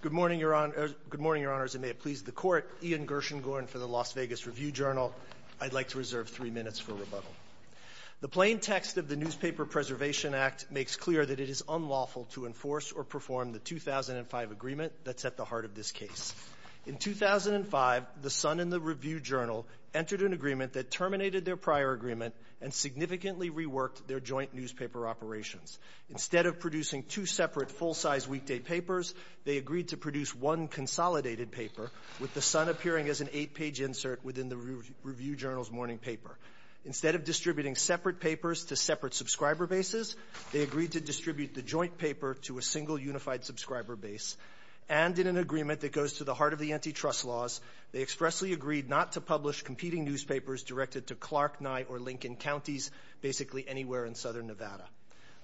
Good morning, Your Honors, and may it please the Court. Ian Gershengorn for the Las Vegas Review-Journal. I'd like to reserve three minutes for rebuttal. The plain text of the Newspaper Preservation Act makes clear that it is unlawful to enforce or perform the 2005 agreement that's at the heart of this case. In 2005, the Sun and the Review-Journal entered an agreement that terminated their prior agreement and significantly reworked their joint newspaper operations. Instead of producing two separate full-size weekday papers, they agreed to produce one consolidated paper, with the Sun appearing as an eight-page insert within the Review-Journal's morning paper. Instead of distributing separate papers to separate subscriber bases, they agreed to distribute the joint paper to a single unified subscriber base. And in an agreement that goes to the heart of the antitrust laws, they expressly agreed not to publish competing newspapers directed to Clark, Nye, or Lincoln counties, basically anywhere in Southern Nevada.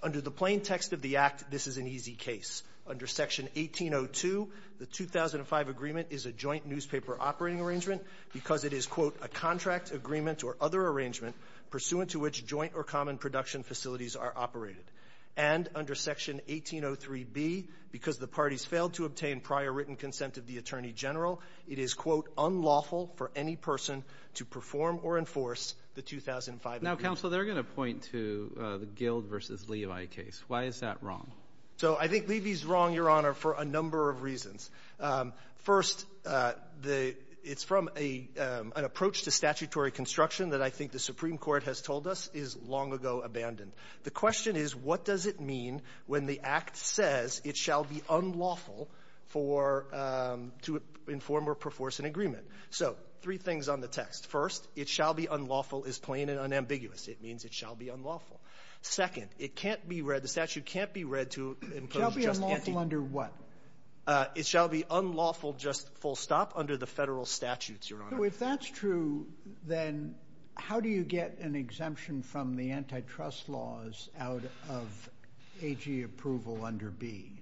Under the plain text of the Act, this is an easy case. Under Section 1802, the 2005 agreement is a joint newspaper operating arrangement because it is, quote, a contract, agreement, or other arrangement pursuant to which joint or common production facilities are operated. And under Section 1803b, because the parties failed to obtain prior written consent of the Attorney General, it is, quote, unlawful for any person to perform or enforce the 2005 agreement. Now, Counselor, they're going to point to the Gild v. Levi case. Why is that wrong? So I think Levi's wrong, Your Honor, for a number of reasons. First, it's from an approach to statutory construction that I think the Supreme Court has told us is long ago abandoned. The question is, what does it mean when the Act says it shall be unlawful for to inform or perforce an agreement? So three things on the text. First, it shall be unlawful is plain and unambiguous. It means it shall be unlawful. Second, it can't be read, the statute can't be read to impose just anti- It shall be unlawful under what? It shall be unlawful just full stop under the Federal statutes, Your Honor. So if that's true, then how do you get an exemption from the antitrust laws out of AG approval under B?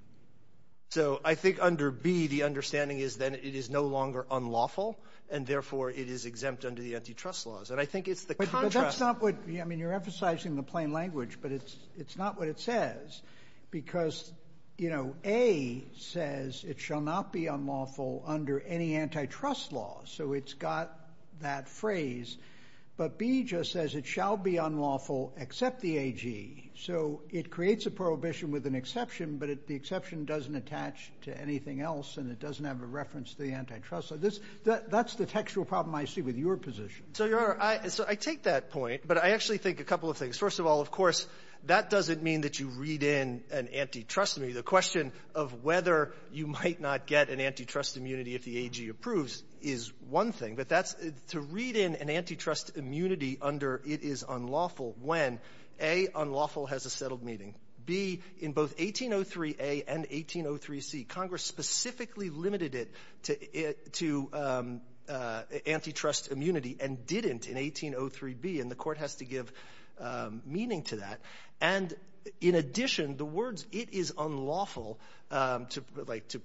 So I think under B, the understanding is that it is no longer unlawful, and therefore it is exempt under the antitrust laws. And I think it's the contrast. I mean, you're emphasizing the plain language, but it's not what it says. Because, you know, A says it shall not be unlawful under any antitrust laws. So it's got that phrase. But B just says it shall be unlawful except the AG. So it creates a prohibition with an exception, but the exception doesn't attach to anything else, and it doesn't have a reference to the antitrust. That's the textual problem I see with your position. So, Your Honor, so I take that point, but I actually think a couple of things. First of all, of course, that doesn't mean that you read in an antitrust. I mean, the question of whether you might not get an antitrust immunity if the AG approves is one thing. But that's to read in an antitrust immunity under it is unlawful when, A, unlawful has a settled meeting, B, in both 1803A and 1803C, Congress specifically limited it to antitrust immunity and didn't in 1803B. And the Court has to give meaning to that. And, in addition, the words, it is unlawful, like, to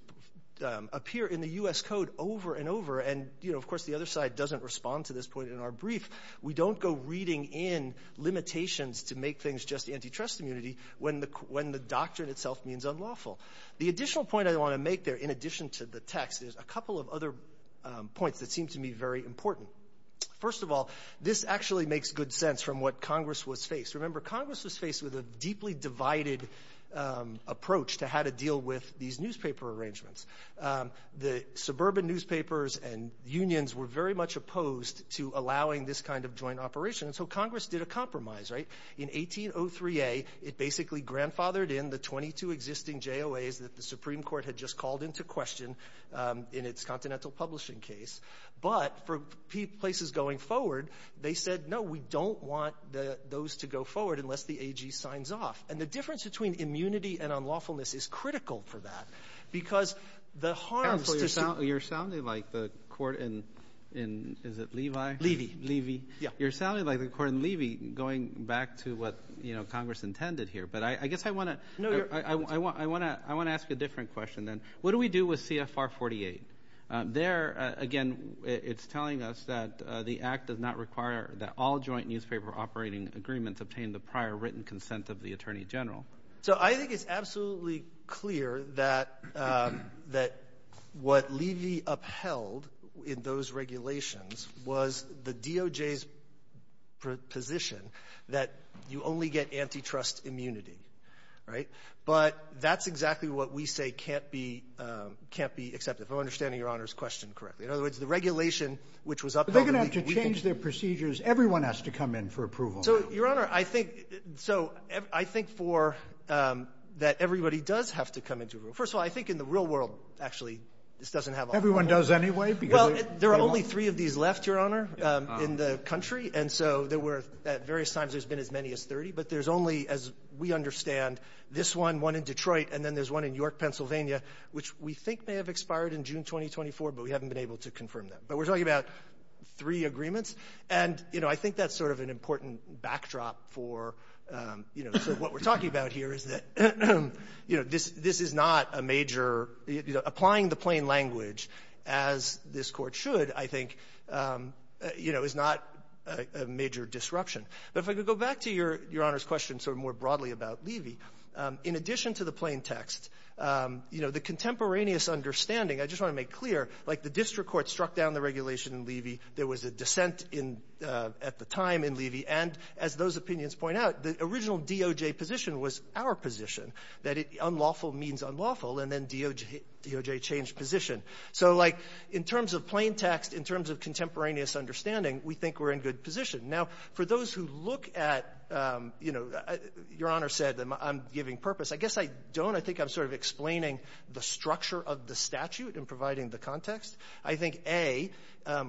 appear in the U.S. Code over and over, and, you know, of course, the other side doesn't respond to this point in our brief. We don't go reading in limitations to make things just antitrust immunity when the doctrine itself means unlawful. The additional point I want to make there, in addition to the text, is a couple of other points that seem to me very important. First of all, this actually makes good sense from what Congress was faced. Remember, Congress was faced with a deeply divided approach to how to deal with these newspaper arrangements. The suburban newspapers and unions were very much opposed to allowing this kind of joint operation, and so Congress did a compromise, right? In 1803A, it basically grandfathered in the 22 existing JOAs that the Supreme Court had just called into question in its Continental Publishing case. But for places going forward, they said, no, we don't want those to go forward unless the AG signs off. And the difference between immunity and unlawfulness is critical for that, because the harms to the ---- Kennedy, you're sounding like the Court in, is it Levi? Levy. Levy. Yeah. You're sounding like the Court in Levi, going back to what Congress intended here. But I guess I want to ask a different question then. What do we do with CFR 48? There, again, it's telling us that the Act does not require that all joint newspaper operating agreements obtain the prior written consent of the Attorney General. So I think it's absolutely clear that what Levi upheld in those regulations was the DOJ's position that you only get antitrust immunity. Right? But that's exactly what we say can't be accepted, if I'm understanding Your Honor's question correctly. In other words, the regulation which was upheld in the ---- But they're going to have to change their procedures. Everyone has to come in for approval. So, Your Honor, I think so. I think for that everybody does have to come into a room. First of all, I think in the real world, actually, this doesn't have a ---- Everyone does anyway because ---- There are only three of these left, Your Honor, in the country. And so there were at various times there's been as many as 30. But there's only, as we understand, this one, one in Detroit, and then there's one in York, Pennsylvania, which we think may have expired in June 2024, but we haven't been able to confirm that. But we're talking about three agreements. And, you know, I think that's sort of an important backdrop for, you know, what we're talking about here is that, you know, this is not a major ---- you know, applying the plain language as this Court should, I think, you know, is not a major disruption. But if I could go back to Your Honor's question sort of more broadly about Levy, in addition to the plain text, you know, the contemporaneous understanding, I just want to make clear, like the district court struck down the regulation in Levy. There was a dissent in ---- at the time in Levy. And as those opinions point out, the original DOJ position was our position, that unlawful means unlawful, and then DOJ changed position. So, like, in terms of plain text, in terms of contemporaneous understanding, we think we're in good position. Now, for those who look at, you know, Your Honor said that I'm giving purpose. I guess I don't. I think I'm sort of explaining the structure of the statute and providing the context. I think, A,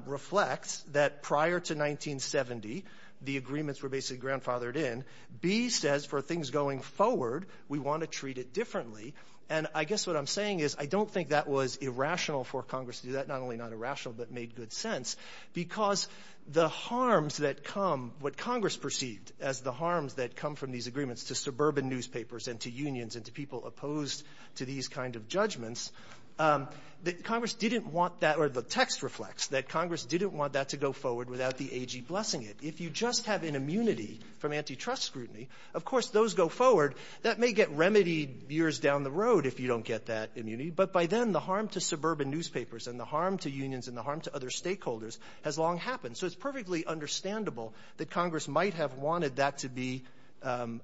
reflects that prior to 1970, the agreements were basically grandfathered in. B says, for things going forward, we want to treat it differently. And I guess what I'm saying is I don't think that was irrational for Congress to do that, not only not irrational, but made good sense, because the harms that come, what Congress perceived as the harms that come from these agreements to suburban newspapers and to unions and to people opposed to these kind of judgments, that Congress didn't want that, or the text reflects that Congress didn't want that to go forward without the AG blessing it. If you just have an immunity from antitrust scrutiny, of course, those go forward. That may get remedied years down the road if you don't get that immunity. But by then, the harm to suburban newspapers and the harm to unions and the harm to other stakeholders has long happened. So it's perfectly understandable that Congress might have wanted that to be to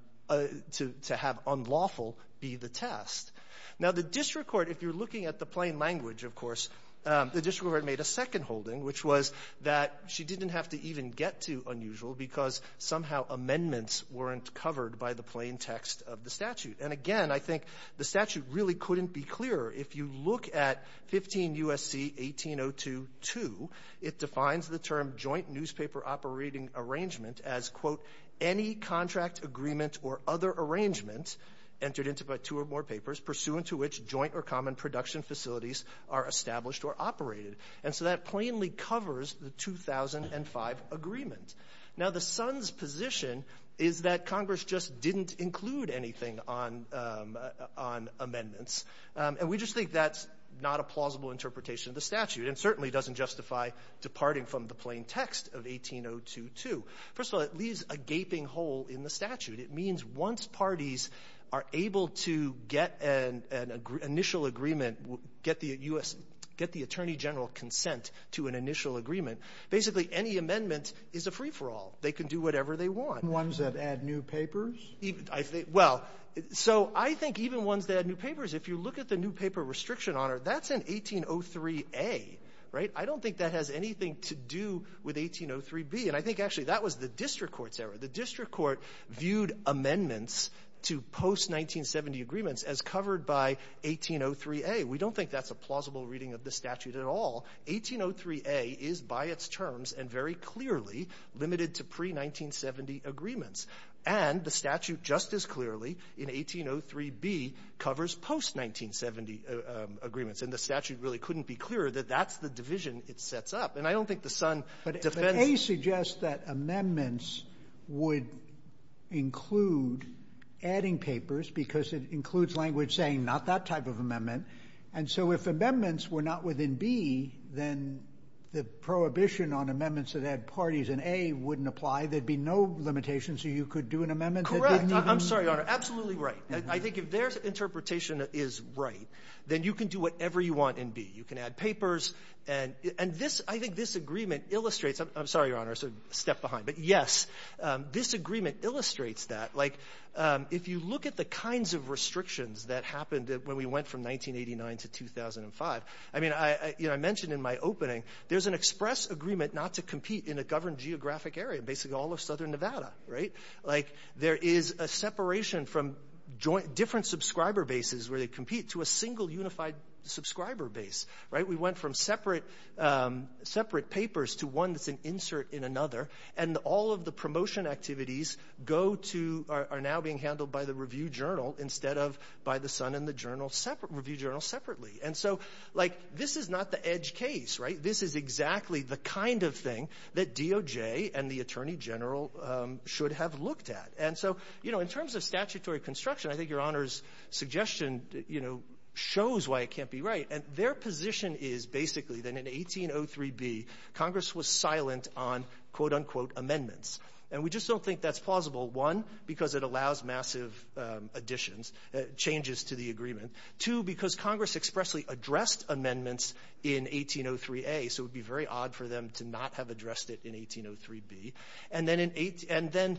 have unlawful be the test. Now, the district court, if you're looking at the plain language, of course, the district court made a second holding, which was that she didn't have to even get to unusual because somehow amendments weren't covered by the plain text of the statute. And again, I think the statute really couldn't be clearer. If you look at 15 U.S.C. 1802.2, it defines the term joint newspaper operating arrangement as, quote, any contract agreement or other arrangement entered into by two or more papers pursuant to which joint or common production facilities are established or operated. And so that plainly covers the 2005 agreement. Now, the son's position is that Congress just didn't include anything on amendments. And we just think that's not a plausible interpretation of the statute and certainly doesn't justify departing from the plain text of 1802.2. First of all, it leaves a gaping hole in the statute. It means once parties are able to get an initial agreement, get the U.S. — get the attorney general consent to an initial agreement, basically any amendment is a free-for-all. They can do whatever they want. Sotomayor, even ones that add new papers? Well, so I think even ones that add new papers, if you look at the new paper restriction honor, that's in 1803a, right? I don't think that has anything to do with 1803b. And I think actually that was the district court's error. The district court viewed amendments to post-1970 agreements as covered by 1803a. We don't think that's a plausible reading of the statute at all. 1803a is by its terms and very clearly limited to pre-1970 agreements. And the statute just as clearly in 1803b covers post-1970 agreements. And the statute really couldn't be clearer that that's the division it sets up. And I don't think the son defends it. But I would suggest that amendments would include adding papers because it includes language saying not that type of amendment. And so if amendments were not within b, then the prohibition on amendments that add parties in a wouldn't apply. There would be no limitation, so you could do an amendment that didn't even do that. I'm sorry, Your Honor. Absolutely right. I think if their interpretation is right, then you can do whatever you want in b. You can add papers. And I think this agreement illustrates – I'm sorry, Your Honor. I sort of stepped behind. But, yes, this agreement illustrates that. Like, if you look at the kinds of restrictions that happened when we went from 1989 to 2005, I mean, you know, I mentioned in my opening there's an express agreement not to compete in a governed geographic area, basically all of southern Nevada, right? Like, there is a separation from different subscriber bases where they compete to a single unified subscriber base, right? We went from separate papers to one that's an insert in another. And all of the promotion activities go to – are now being handled by the Review Journal instead of by the Sun and the Review Journal separately. And so, like, this is not the edge case, right? This is exactly the kind of thing that DOJ and the Attorney General should have looked at. And so, you know, in terms of statutory construction, I think Your Honor's suggestion, you know, shows why it can't be right. And their position is, basically, that in 1803b, Congress was silent on, quote, unquote, amendments. And we just don't think that's plausible, one, because it allows massive additions – changes to the agreement. Two, because Congress expressly addressed amendments in 1803a, so it would be very odd for them to not have addressed it in 1803b. And then in – and then,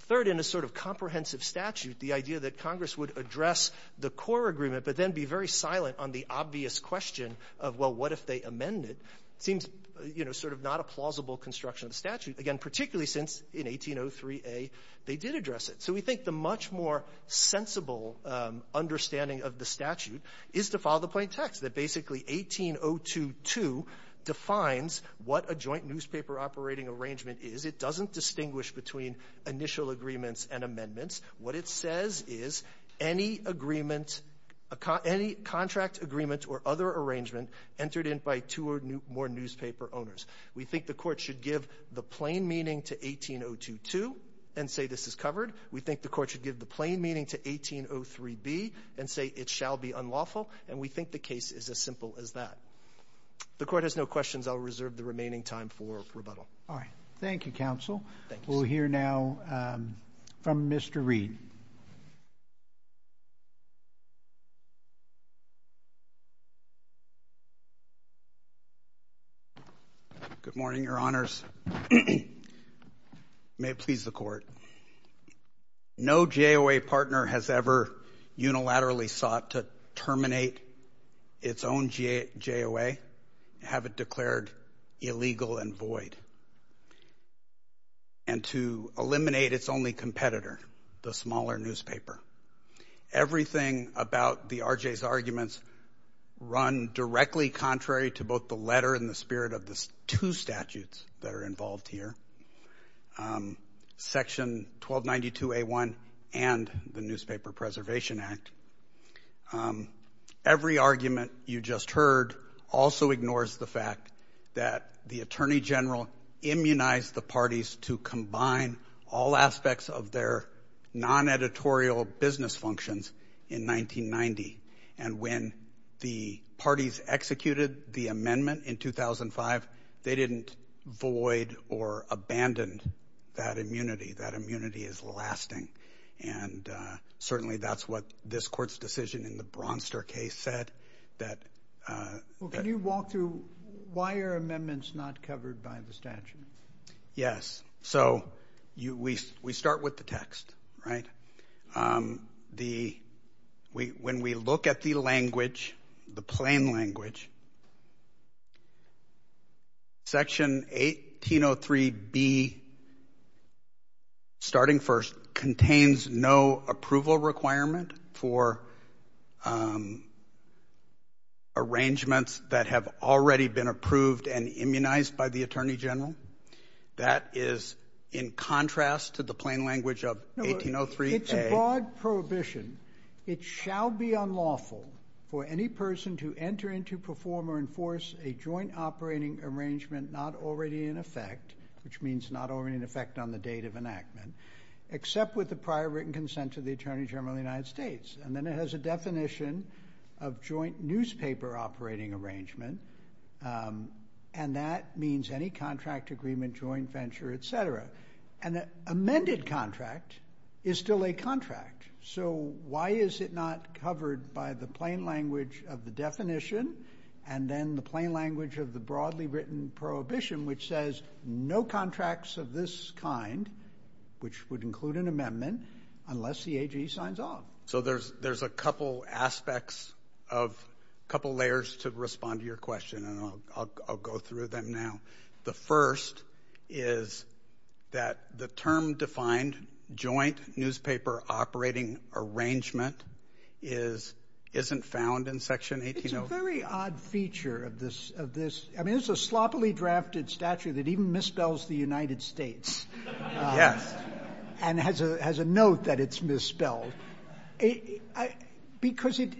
third, in a sort of comprehensive statute, the idea that Congress would address the core agreement but then be very silent on the obvious question of, well, what if they amend it, seems, you know, sort of not a plausible construction of the statute, again, particularly since in 1803a they did address it. So we think the much more sensible understanding of the statute is to follow the plain text, that basically 18022 defines what a joint newspaper operating arrangement is. It doesn't distinguish between initial agreements and amendments. What it says is any agreement – any contract agreement or other arrangement entered in by two or more newspaper owners. We think the court should give the plain meaning to 18022 and say this is covered. We think the court should give the plain meaning to 1803b and say it shall be unlawful. And we think the case is as simple as that. If the court has no questions, I'll reserve the remaining time for rebuttal. All right. Thank you, counsel. Thanks. We'll hear now from Mr. Reed. Good morning, Your Honors. May it please the court. No JOA partner has ever unilaterally sought to terminate its own JOA, have it declared illegal and void. And to eliminate its only competitor, the smaller newspaper. Everything about the RJ's arguments run directly contrary to both the letter and the spirit of the two statutes that are involved here, Section 1292A1 and the Newspaper Preservation Act. Every argument you just heard also ignores the fact that the Attorney General immunized the parties to combine all aspects of their non-editorial business functions in 1990. And when the parties executed the amendment in 2005, they didn't void or abandon that immunity. That immunity is lasting. And certainly that's what this court's decision in the Bronster case said. Can you walk through why are amendments not covered by the statute? Yes. So we start with the text, right? When we look at the language, the plain language, Section 1803B, starting first, contains no approval requirement for arrangements that have already been approved and immunized by the Attorney General. That is in contrast to the plain language of 1803A. It's a broad prohibition. It shall be unlawful for any person to enter into, perform, or enforce a joint operating arrangement not already in effect, which means not already in effect on the date of enactment, except with the prior written consent of the Attorney General of the United States. And then it has a definition of joint newspaper operating arrangement, and that means any contract agreement, joint venture, et cetera. An amended contract is still a contract. So why is it not covered by the plain language of the definition and then the plain language of the broadly written prohibition, which says no contracts of this kind, which would include an amendment, unless the AG signs on? So there's a couple aspects of, a couple layers to respond to your question, and I'll go through them now. The first is that the term defined, joint newspaper operating arrangement, isn't found in Section 1803. It's a very odd feature of this. I mean, it's a sloppily drafted statute that even misspells the United States. Yes. And has a note that it's misspelled. Because it,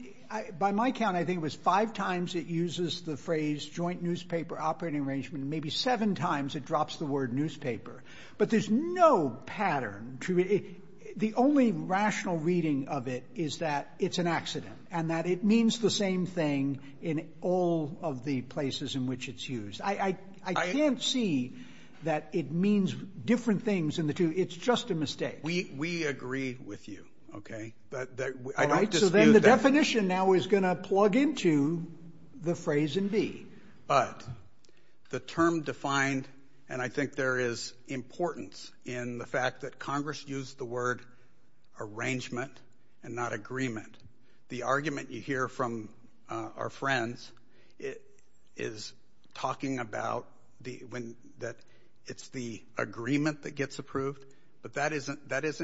by my count, I think it was five times it uses the phrase joint newspaper operating arrangement, maybe seven times it drops the word newspaper. But there's no pattern to it. The only rational reading of it is that it's an accident and that it means the same thing in all of the places in which it's used. I can't see that it means different things in the two. It's just a mistake. We agree with you, okay? I don't dispute that. All right. But the term defined, and I think there is importance in the fact that Congress used the word arrangement and not agreement. The argument you hear from our friends is talking about that it's the agreement that gets approved, but that isn't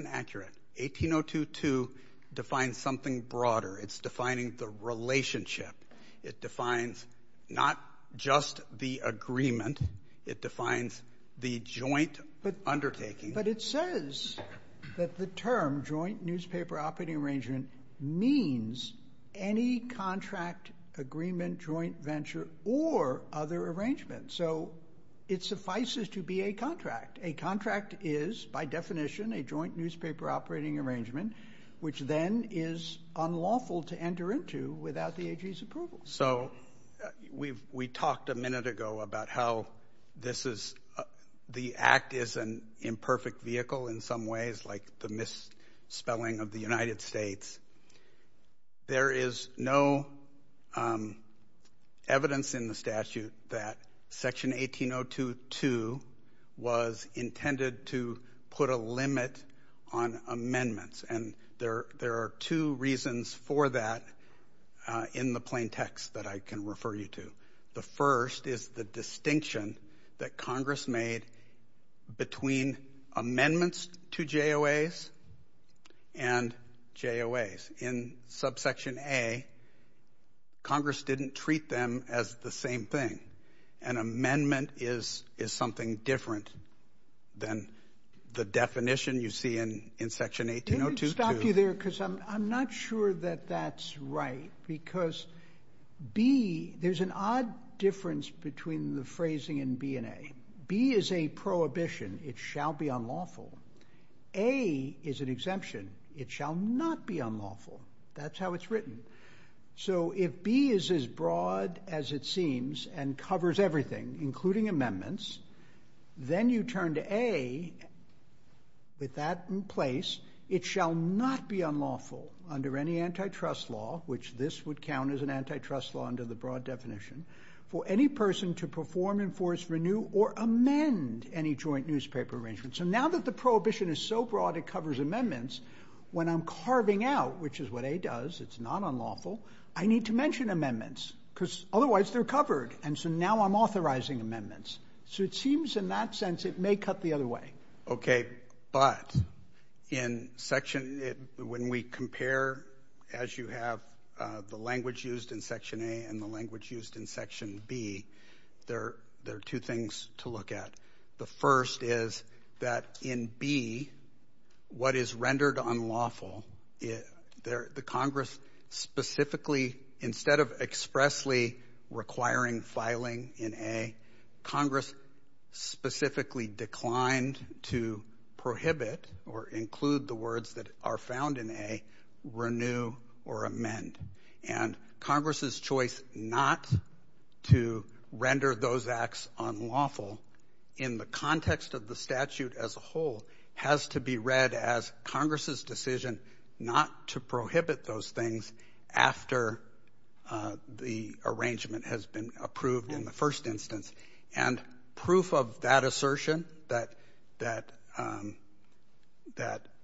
accurate. 1802.2 defines something broader. It's defining the relationship. It defines not just the agreement. It defines the joint undertaking. But it says that the term joint newspaper operating arrangement means any contract agreement, joint venture, or other arrangement. So it suffices to be a contract. A contract is, by definition, a joint newspaper operating arrangement, which then is unlawful to enter into without the AG's approval. So we talked a minute ago about how the Act is an imperfect vehicle in some ways, like the misspelling of the United States. There is no evidence in the statute that Section 1802.2 was intended to put a limit on amendments, and there are two reasons for that in the plain text that I can refer you to. The first is the distinction that Congress made between amendments to JOAs and JOAs. In Subsection A, Congress didn't treat them as the same thing. An amendment is something different than the definition you see in Section 1802.2. Let me stop you there, because I'm not sure that that's right. Because B, there's an odd difference between the phrasing in B and A. B is a prohibition. It shall be unlawful. A is an exemption. It shall not be unlawful. That's how it's written. So if B is as broad as it seems and covers everything, including amendments, then you turn to A with that in place. It shall not be unlawful under any antitrust law, which this would count as an antitrust law under the broad definition, for any person to perform, enforce, renew, or amend any joint newspaper arrangement. So now that the prohibition is so broad it covers amendments, when I'm carving out, which is what A does, it's not unlawful, I need to mention amendments, because otherwise they're covered. And so now I'm authorizing amendments. So it seems in that sense it may cut the other way. Okay. But when we compare, as you have, the language used in Section A and the language used in Section B, there are two things to look at. The first is that in B, what is rendered unlawful, the Congress specifically instead of expressly requiring filing in A, Congress specifically declined to prohibit or include the words that are found in A, renew or amend. And Congress's choice not to render those acts unlawful in the context of the statute as a whole has to be read as Congress's decision not to prohibit those things after the arrangement has been approved in the first instance. And proof of that assertion, that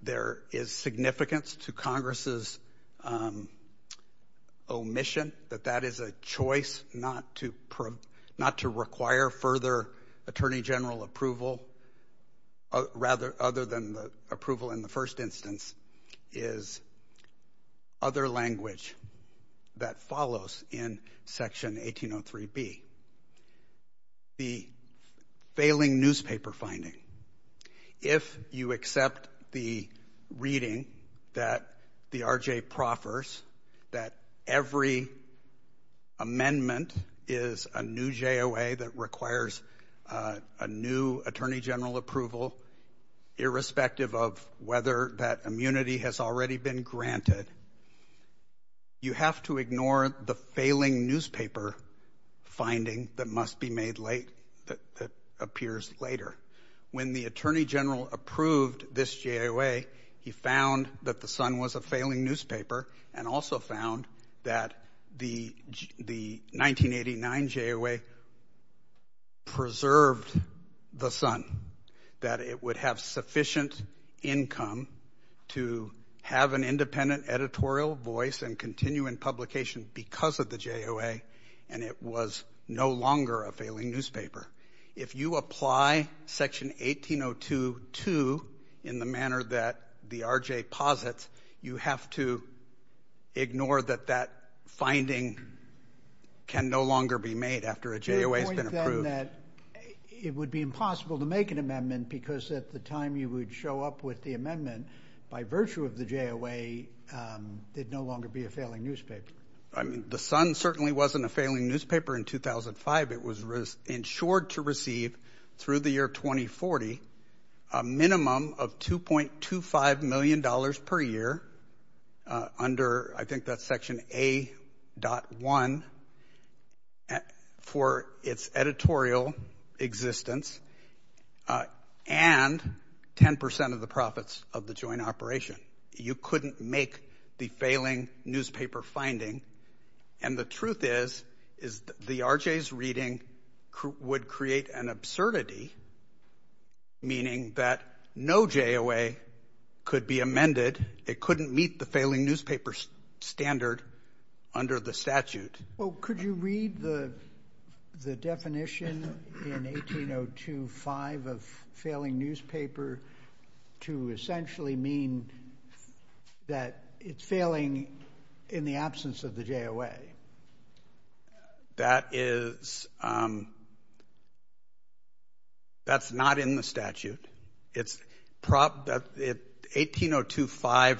there is significance to Congress's omission, that that is a choice not to require further Attorney General approval, rather than the approval in the first instance, is other language that follows in Section 1803B. The failing newspaper finding. If you accept the reading that the R.J. proffers, that every amendment is a new JOA that requires a new Attorney General approval, irrespective of whether that immunity has already been granted, you have to ignore the failing newspaper finding that must be made late, that appears later. When the Attorney General approved this JOA, he found that the Sun was a failing newspaper and also found that the 1989 JOA preserved the Sun, that it would have sufficient income to have an independent editorial voice and continue in publication because of the JOA, and it was no longer a failing newspaper. If you apply Section 1802 to in the manner that the R.J. posits, you have to ignore that that finding can no longer be made after a JOA has been approved. It would be impossible to make an amendment because at the time you would show up with the amendment, by virtue of the JOA, it would no longer be a failing newspaper. The Sun certainly wasn't a failing newspaper in 2005. It was insured to receive, through the year 2040, a minimum of $2.25 million per year under, I think that's Section A.1, for its editorial existence and 10% of the profits of the joint operation. You couldn't make the failing newspaper finding. And the truth is the R.J.'s reading would create an absurdity, meaning that no JOA could be amended. It couldn't meet the failing newspaper standard under the statute. Well, could you read the definition in 1802.5 of failing newspaper to essentially mean that it's failing in the absence of the JOA? That is not in the statute. 1802.5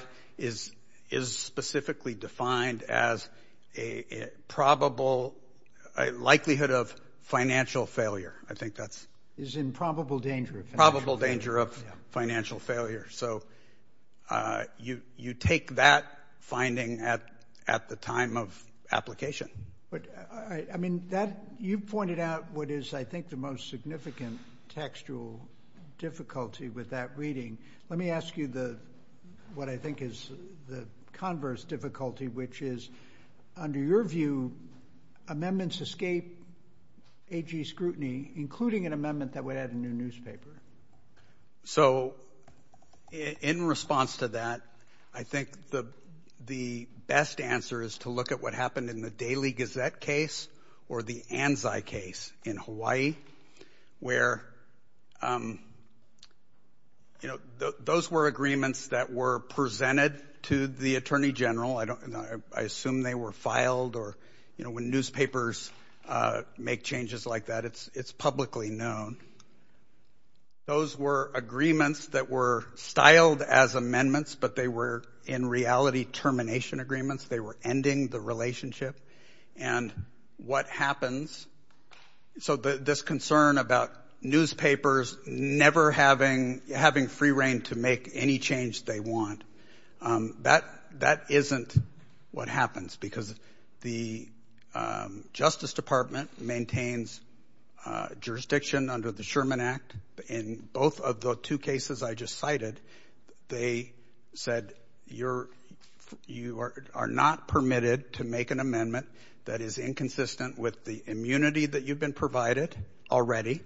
is specifically defined as a probable likelihood of financial failure. It's in probable danger of financial failure. Probable danger of financial failure. So you take that finding at the time of application. You pointed out what is, I think, the most significant textual difficulty with that reading. Let me ask you what I think is the converse difficulty, which is, under your view, amendments escape AG scrutiny, including an amendment that would add a new newspaper. So in response to that, I think the best answer is to look at what happened in the Daily Gazette case or the Anzai case in Hawaii, where those were agreements that were presented to the Attorney General. I assume they were filed or, you know, when newspapers make changes like that, it's publicly known. Those were agreements that were styled as amendments, but they were in reality termination agreements. They were ending the relationship. And what happens, so this concern about newspapers never having free reign to make any change they want, that isn't what happens because the Justice Department maintains jurisdiction under the Sherman Act. In both of the two cases I just cited, they said you are not permitted to make an amendment that is inconsistent with the immunity that you've been provided already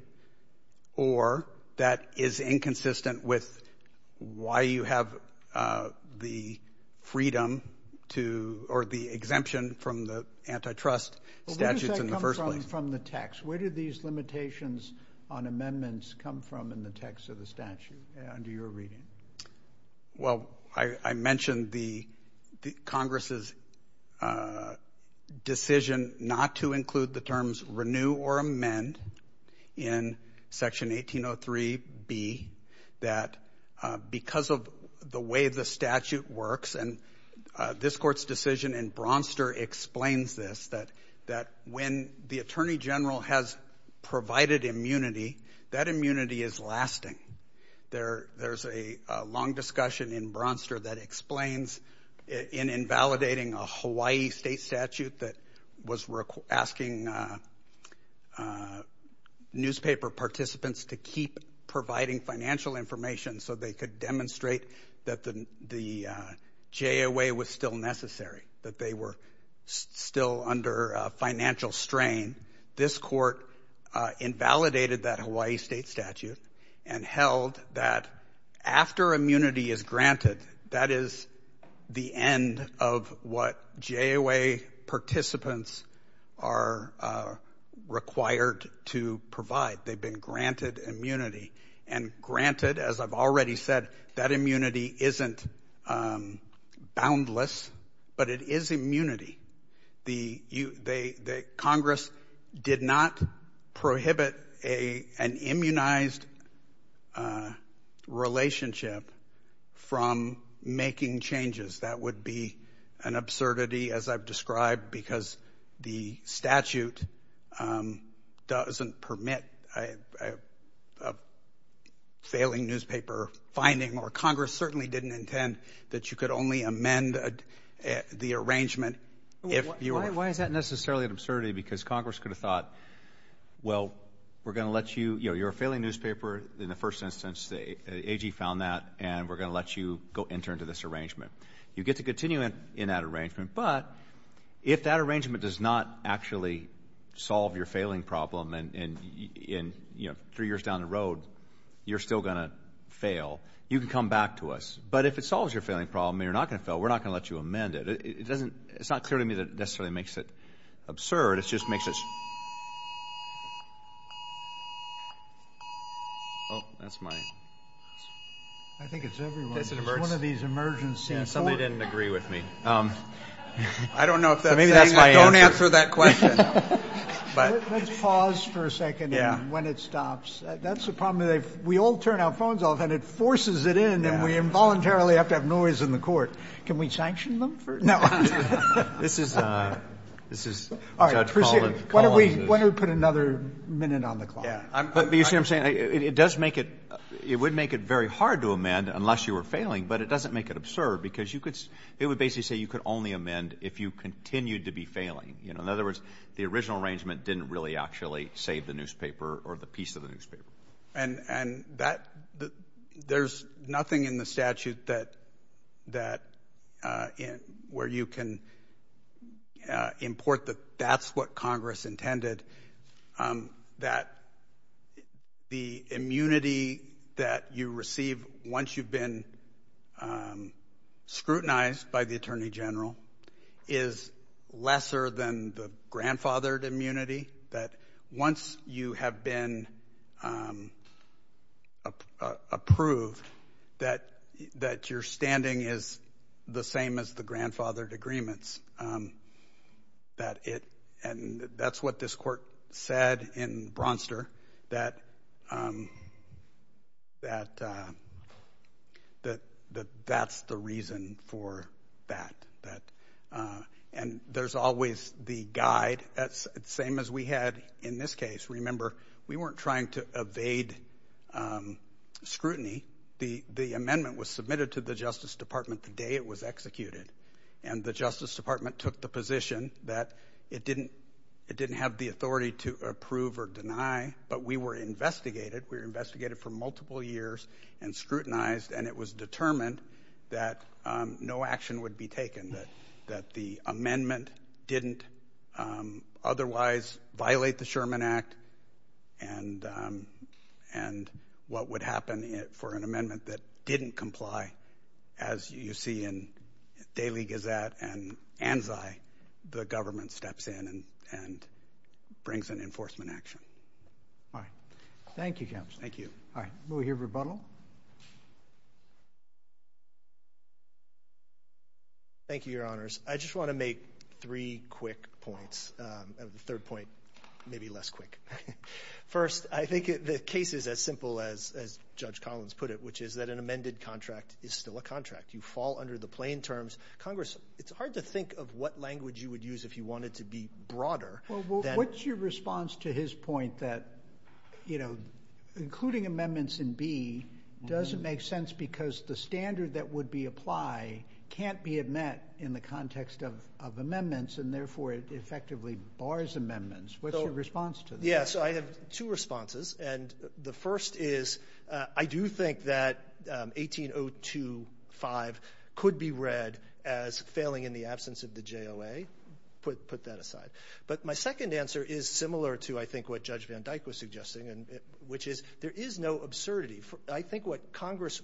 or that is inconsistent with why you have the freedom to or the exemption from the antitrust statutes in the first place. Where does that come from the text? Where did these limitations on amendments come from in the text of the statute under your reading? Well, I mentioned the Congress' decision not to include the terms renew or amend in Section 1803B that because of the way the statute works, and this Court's decision in Bronster explains this, that when the Attorney General has provided immunity, that immunity is lasting. There's a long discussion in Bronster that explains in invalidating a Hawaii state statute that was asking newspaper participants to keep providing financial information so they could demonstrate that the JOA was still necessary, that they were still under financial strain. This Court invalidated that Hawaii state statute and held that after immunity is granted, that is the end of what JOA participants are required to provide. They've been granted immunity. And granted, as I've already said, that immunity isn't boundless, but it is immunity. Congress did not prohibit an immunized relationship from making changes. That would be an absurdity, as I've described, because the statute doesn't permit a failing newspaper finding, or Congress certainly didn't intend that you could only amend the arrangement if you were. Why is that necessarily an absurdity? Because Congress could have thought, well, we're going to let you, you know, you're a failing newspaper in the first instance, the AG found that, and we're going to let you go enter into this arrangement. You get to continue in that arrangement, but if that arrangement does not actually solve your failing problem, and, you know, three years down the road, you're still going to fail, you can come back to us. But if it solves your failing problem and you're not going to fail, we're not going to let you amend it. It doesn't, it's not clearly to me that it necessarily makes it absurd. It just makes it. Oh, that's my. I think it's everyone. It's one of these emergency courts. Somebody didn't agree with me. I don't know if that's my answer. Don't answer that question. Let's pause for a second when it stops. That's the problem. We all turn our phones off, and it forces it in, and we involuntarily have to have noise in the court. Can we sanction them? This is Judge Collins. Why don't we put another minute on the clock? But you see what I'm saying? It does make it, it would make it very hard to amend unless you were failing, but it doesn't make it absurd because you could, it would basically say you could only amend if you continued to be failing. In other words, the original arrangement didn't really actually save the newspaper or the piece of the newspaper. And that, there's nothing in the statute that, where you can import that that's what Congress intended, that the immunity that you receive once you've been scrutinized by the Attorney General is lesser than the grandfathered immunity, that once you have been approved, that your standing is the same as the grandfathered agreements. That it, and that's what this court said in Bronster, that that's the reason for that. And there's always the guide, same as we had in this case. Remember, we weren't trying to evade scrutiny. The amendment was submitted to the Justice Department the day it was executed, and the Justice Department took the position that it didn't have the authority to approve or deny, but we were investigated. We were investigated for multiple years and scrutinized, and it was determined that no action would be taken, that the amendment didn't otherwise violate the Sherman Act, and what would happen for an amendment that didn't comply, as you see in Daily Gazette and Anzai, the government steps in and brings an enforcement action. All right. Thank you, Counsel. Thank you. All right. We'll hear rebuttal. Thank you, Your Honors. I just want to make three quick points. The third point may be less quick. First, I think the case is as simple as Judge Collins put it, which is that an amended contract is still a contract. You fall under the plain terms. Congress, it's hard to think of what language you would use if you wanted to be broader. Well, what's your response to his point that, you know, including amendments in B doesn't make sense because the standard that would be applied can't be met in the context of amendments, and therefore it effectively bars amendments. What's your response to that? Yeah, so I have two responses, and the first is I do think that 18025 could be read as failing in the absence of the JOA. I put that aside. But my second answer is similar to, I think, what Judge Van Dyke was suggesting, which is there is no absurdity. I think what Congress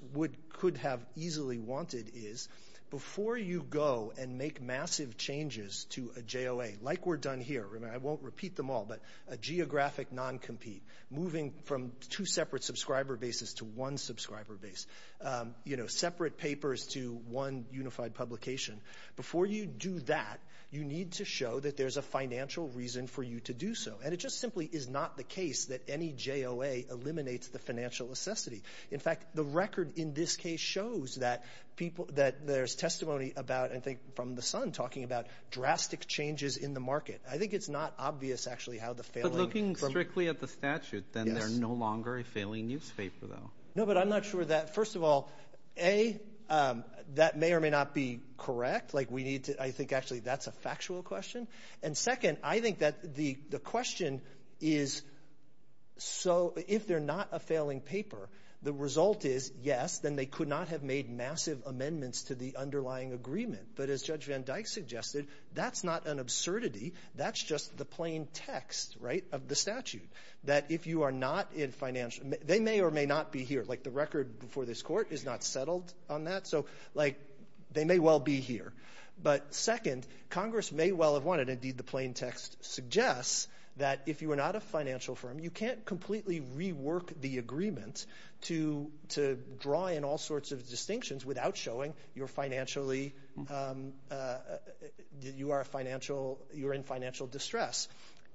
could have easily wanted is before you go and make massive changes to a JOA, like we're done here, I won't repeat them all, but a geographic non-compete, moving from two separate subscriber bases to one subscriber base, you know, separate papers to one unified publication. Before you do that, you need to show that there's a financial reason for you to do so, and it just simply is not the case that any JOA eliminates the financial necessity. In fact, the record in this case shows that there's testimony about, I think, from The Sun, talking about drastic changes in the market. I think it's not obvious, actually, how the failing from – But looking strictly at the statute, then they're no longer a failing newspaper, though. No, but I'm not sure that – first of all, A, that may or may not be correct. Like, we need to – I think, actually, that's a factual question. And second, I think that the question is, so if they're not a failing paper, the result is, yes, then they could not have made massive amendments to the underlying agreement. But as Judge Van Dyke suggested, that's not an absurdity. That's just the plain text, right, of the statute, that if you are not in financial – they may or may not be here. Like, the record before this court is not settled on that. So, like, they may well be here. But second, Congress may well have wanted – indeed, the plain text suggests that if you are not a financial firm, you can't completely rework the agreement to draw in all sorts of distinctions without showing you're financially – you are a financial – you're in financial distress.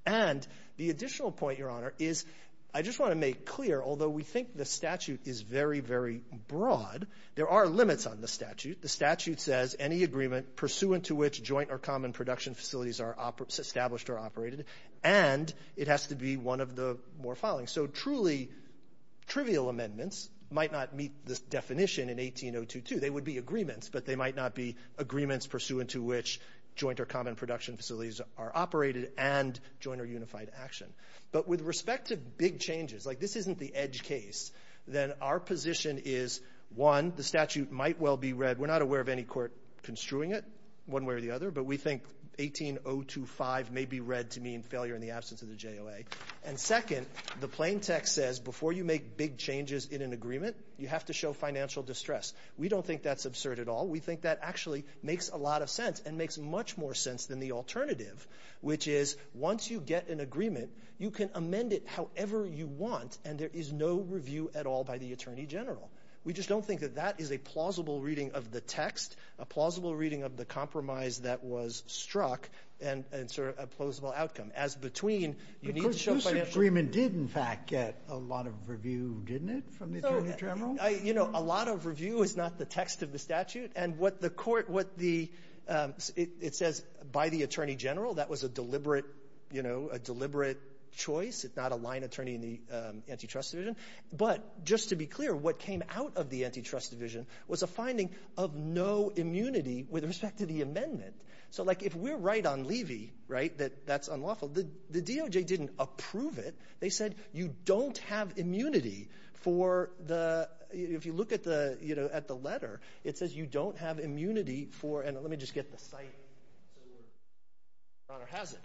And the additional point, Your Honor, is I just want to make clear, although we think the statute is very, very broad, there are limits on the statute. The statute says any agreement pursuant to which joint or common production facilities are established or operated, and it has to be one of the more following. So truly trivial amendments might not meet this definition in 18022. They would be agreements, but they might not be agreements pursuant to which joint or common production facilities are operated and joint or unified action. But with respect to big changes – like, this isn't the edge case – then our position is, one, the statute might well be read – we're not aware of any court construing it one way or the other, but we think 18025 may be read to mean failure in the absence of the JOA. And second, the plain text says before you make big changes in an agreement, you have to show financial distress. We don't think that's absurd at all. We think that actually makes a lot of sense and makes much more sense than the alternative, which is once you get an agreement, you can amend it however you want, and there is no review at all by the Attorney General. We just don't think that that is a plausible reading of the text, a plausible reading of the compromise that was struck, and sort of a plausible outcome. As between, you need to show financial – Sotomayor, whose agreement did, in fact, get a lot of review, didn't it, from the Attorney General? I – you know, a lot of review is not the text of the statute. And what the court – what the – it says by the Attorney General. That was a deliberate – you know, a deliberate choice. It's not a line attorney in the antitrust division. But just to be clear, what came out of the antitrust division was a finding of no immunity with respect to the amendment. So, like, if we're right on Levy, right, that that's unlawful, the DOJ didn't approve it. They said you don't have immunity for the – if you look at the – you know, at the letter, it says you don't have immunity for – and let me just get the site so we're – Your Honor has it.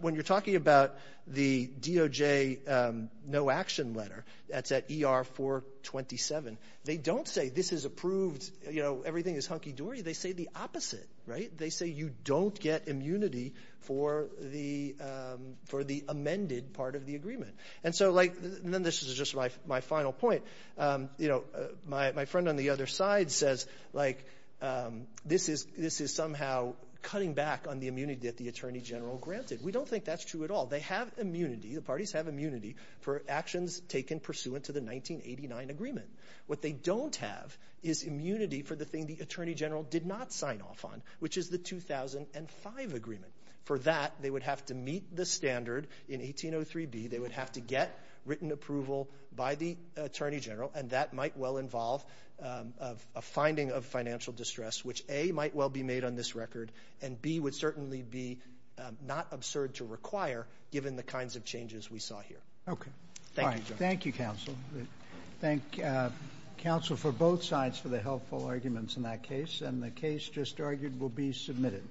When you're talking about the DOJ no-action letter, that's at ER-427, they don't say this is approved, you know, everything is hunky-dory. They say the opposite, right? They say you don't get immunity for the – for the amended part of the agreement. And so, like – and then this is just my final point. You know, my friend on the other side says, like, this is somehow cutting back on the immunity that the Attorney General granted. We don't think that's true at all. They have immunity, the parties have immunity, for actions taken pursuant to the 1989 agreement. What they don't have is immunity for the thing the Attorney General did not sign off on, which is the 2005 agreement. For that, they would have to meet the standard in 1803b. They would have to get written approval by the Attorney General, and that might well involve a finding of financial distress, which, A, might well be made on this record, and, B, would certainly be not absurd to require given the kinds of changes we saw here. Okay. Thank you, Justice. All right. Thank you, counsel. Thank counsel for both sides for the helpful arguments in that case, and the case just argued will be submitted.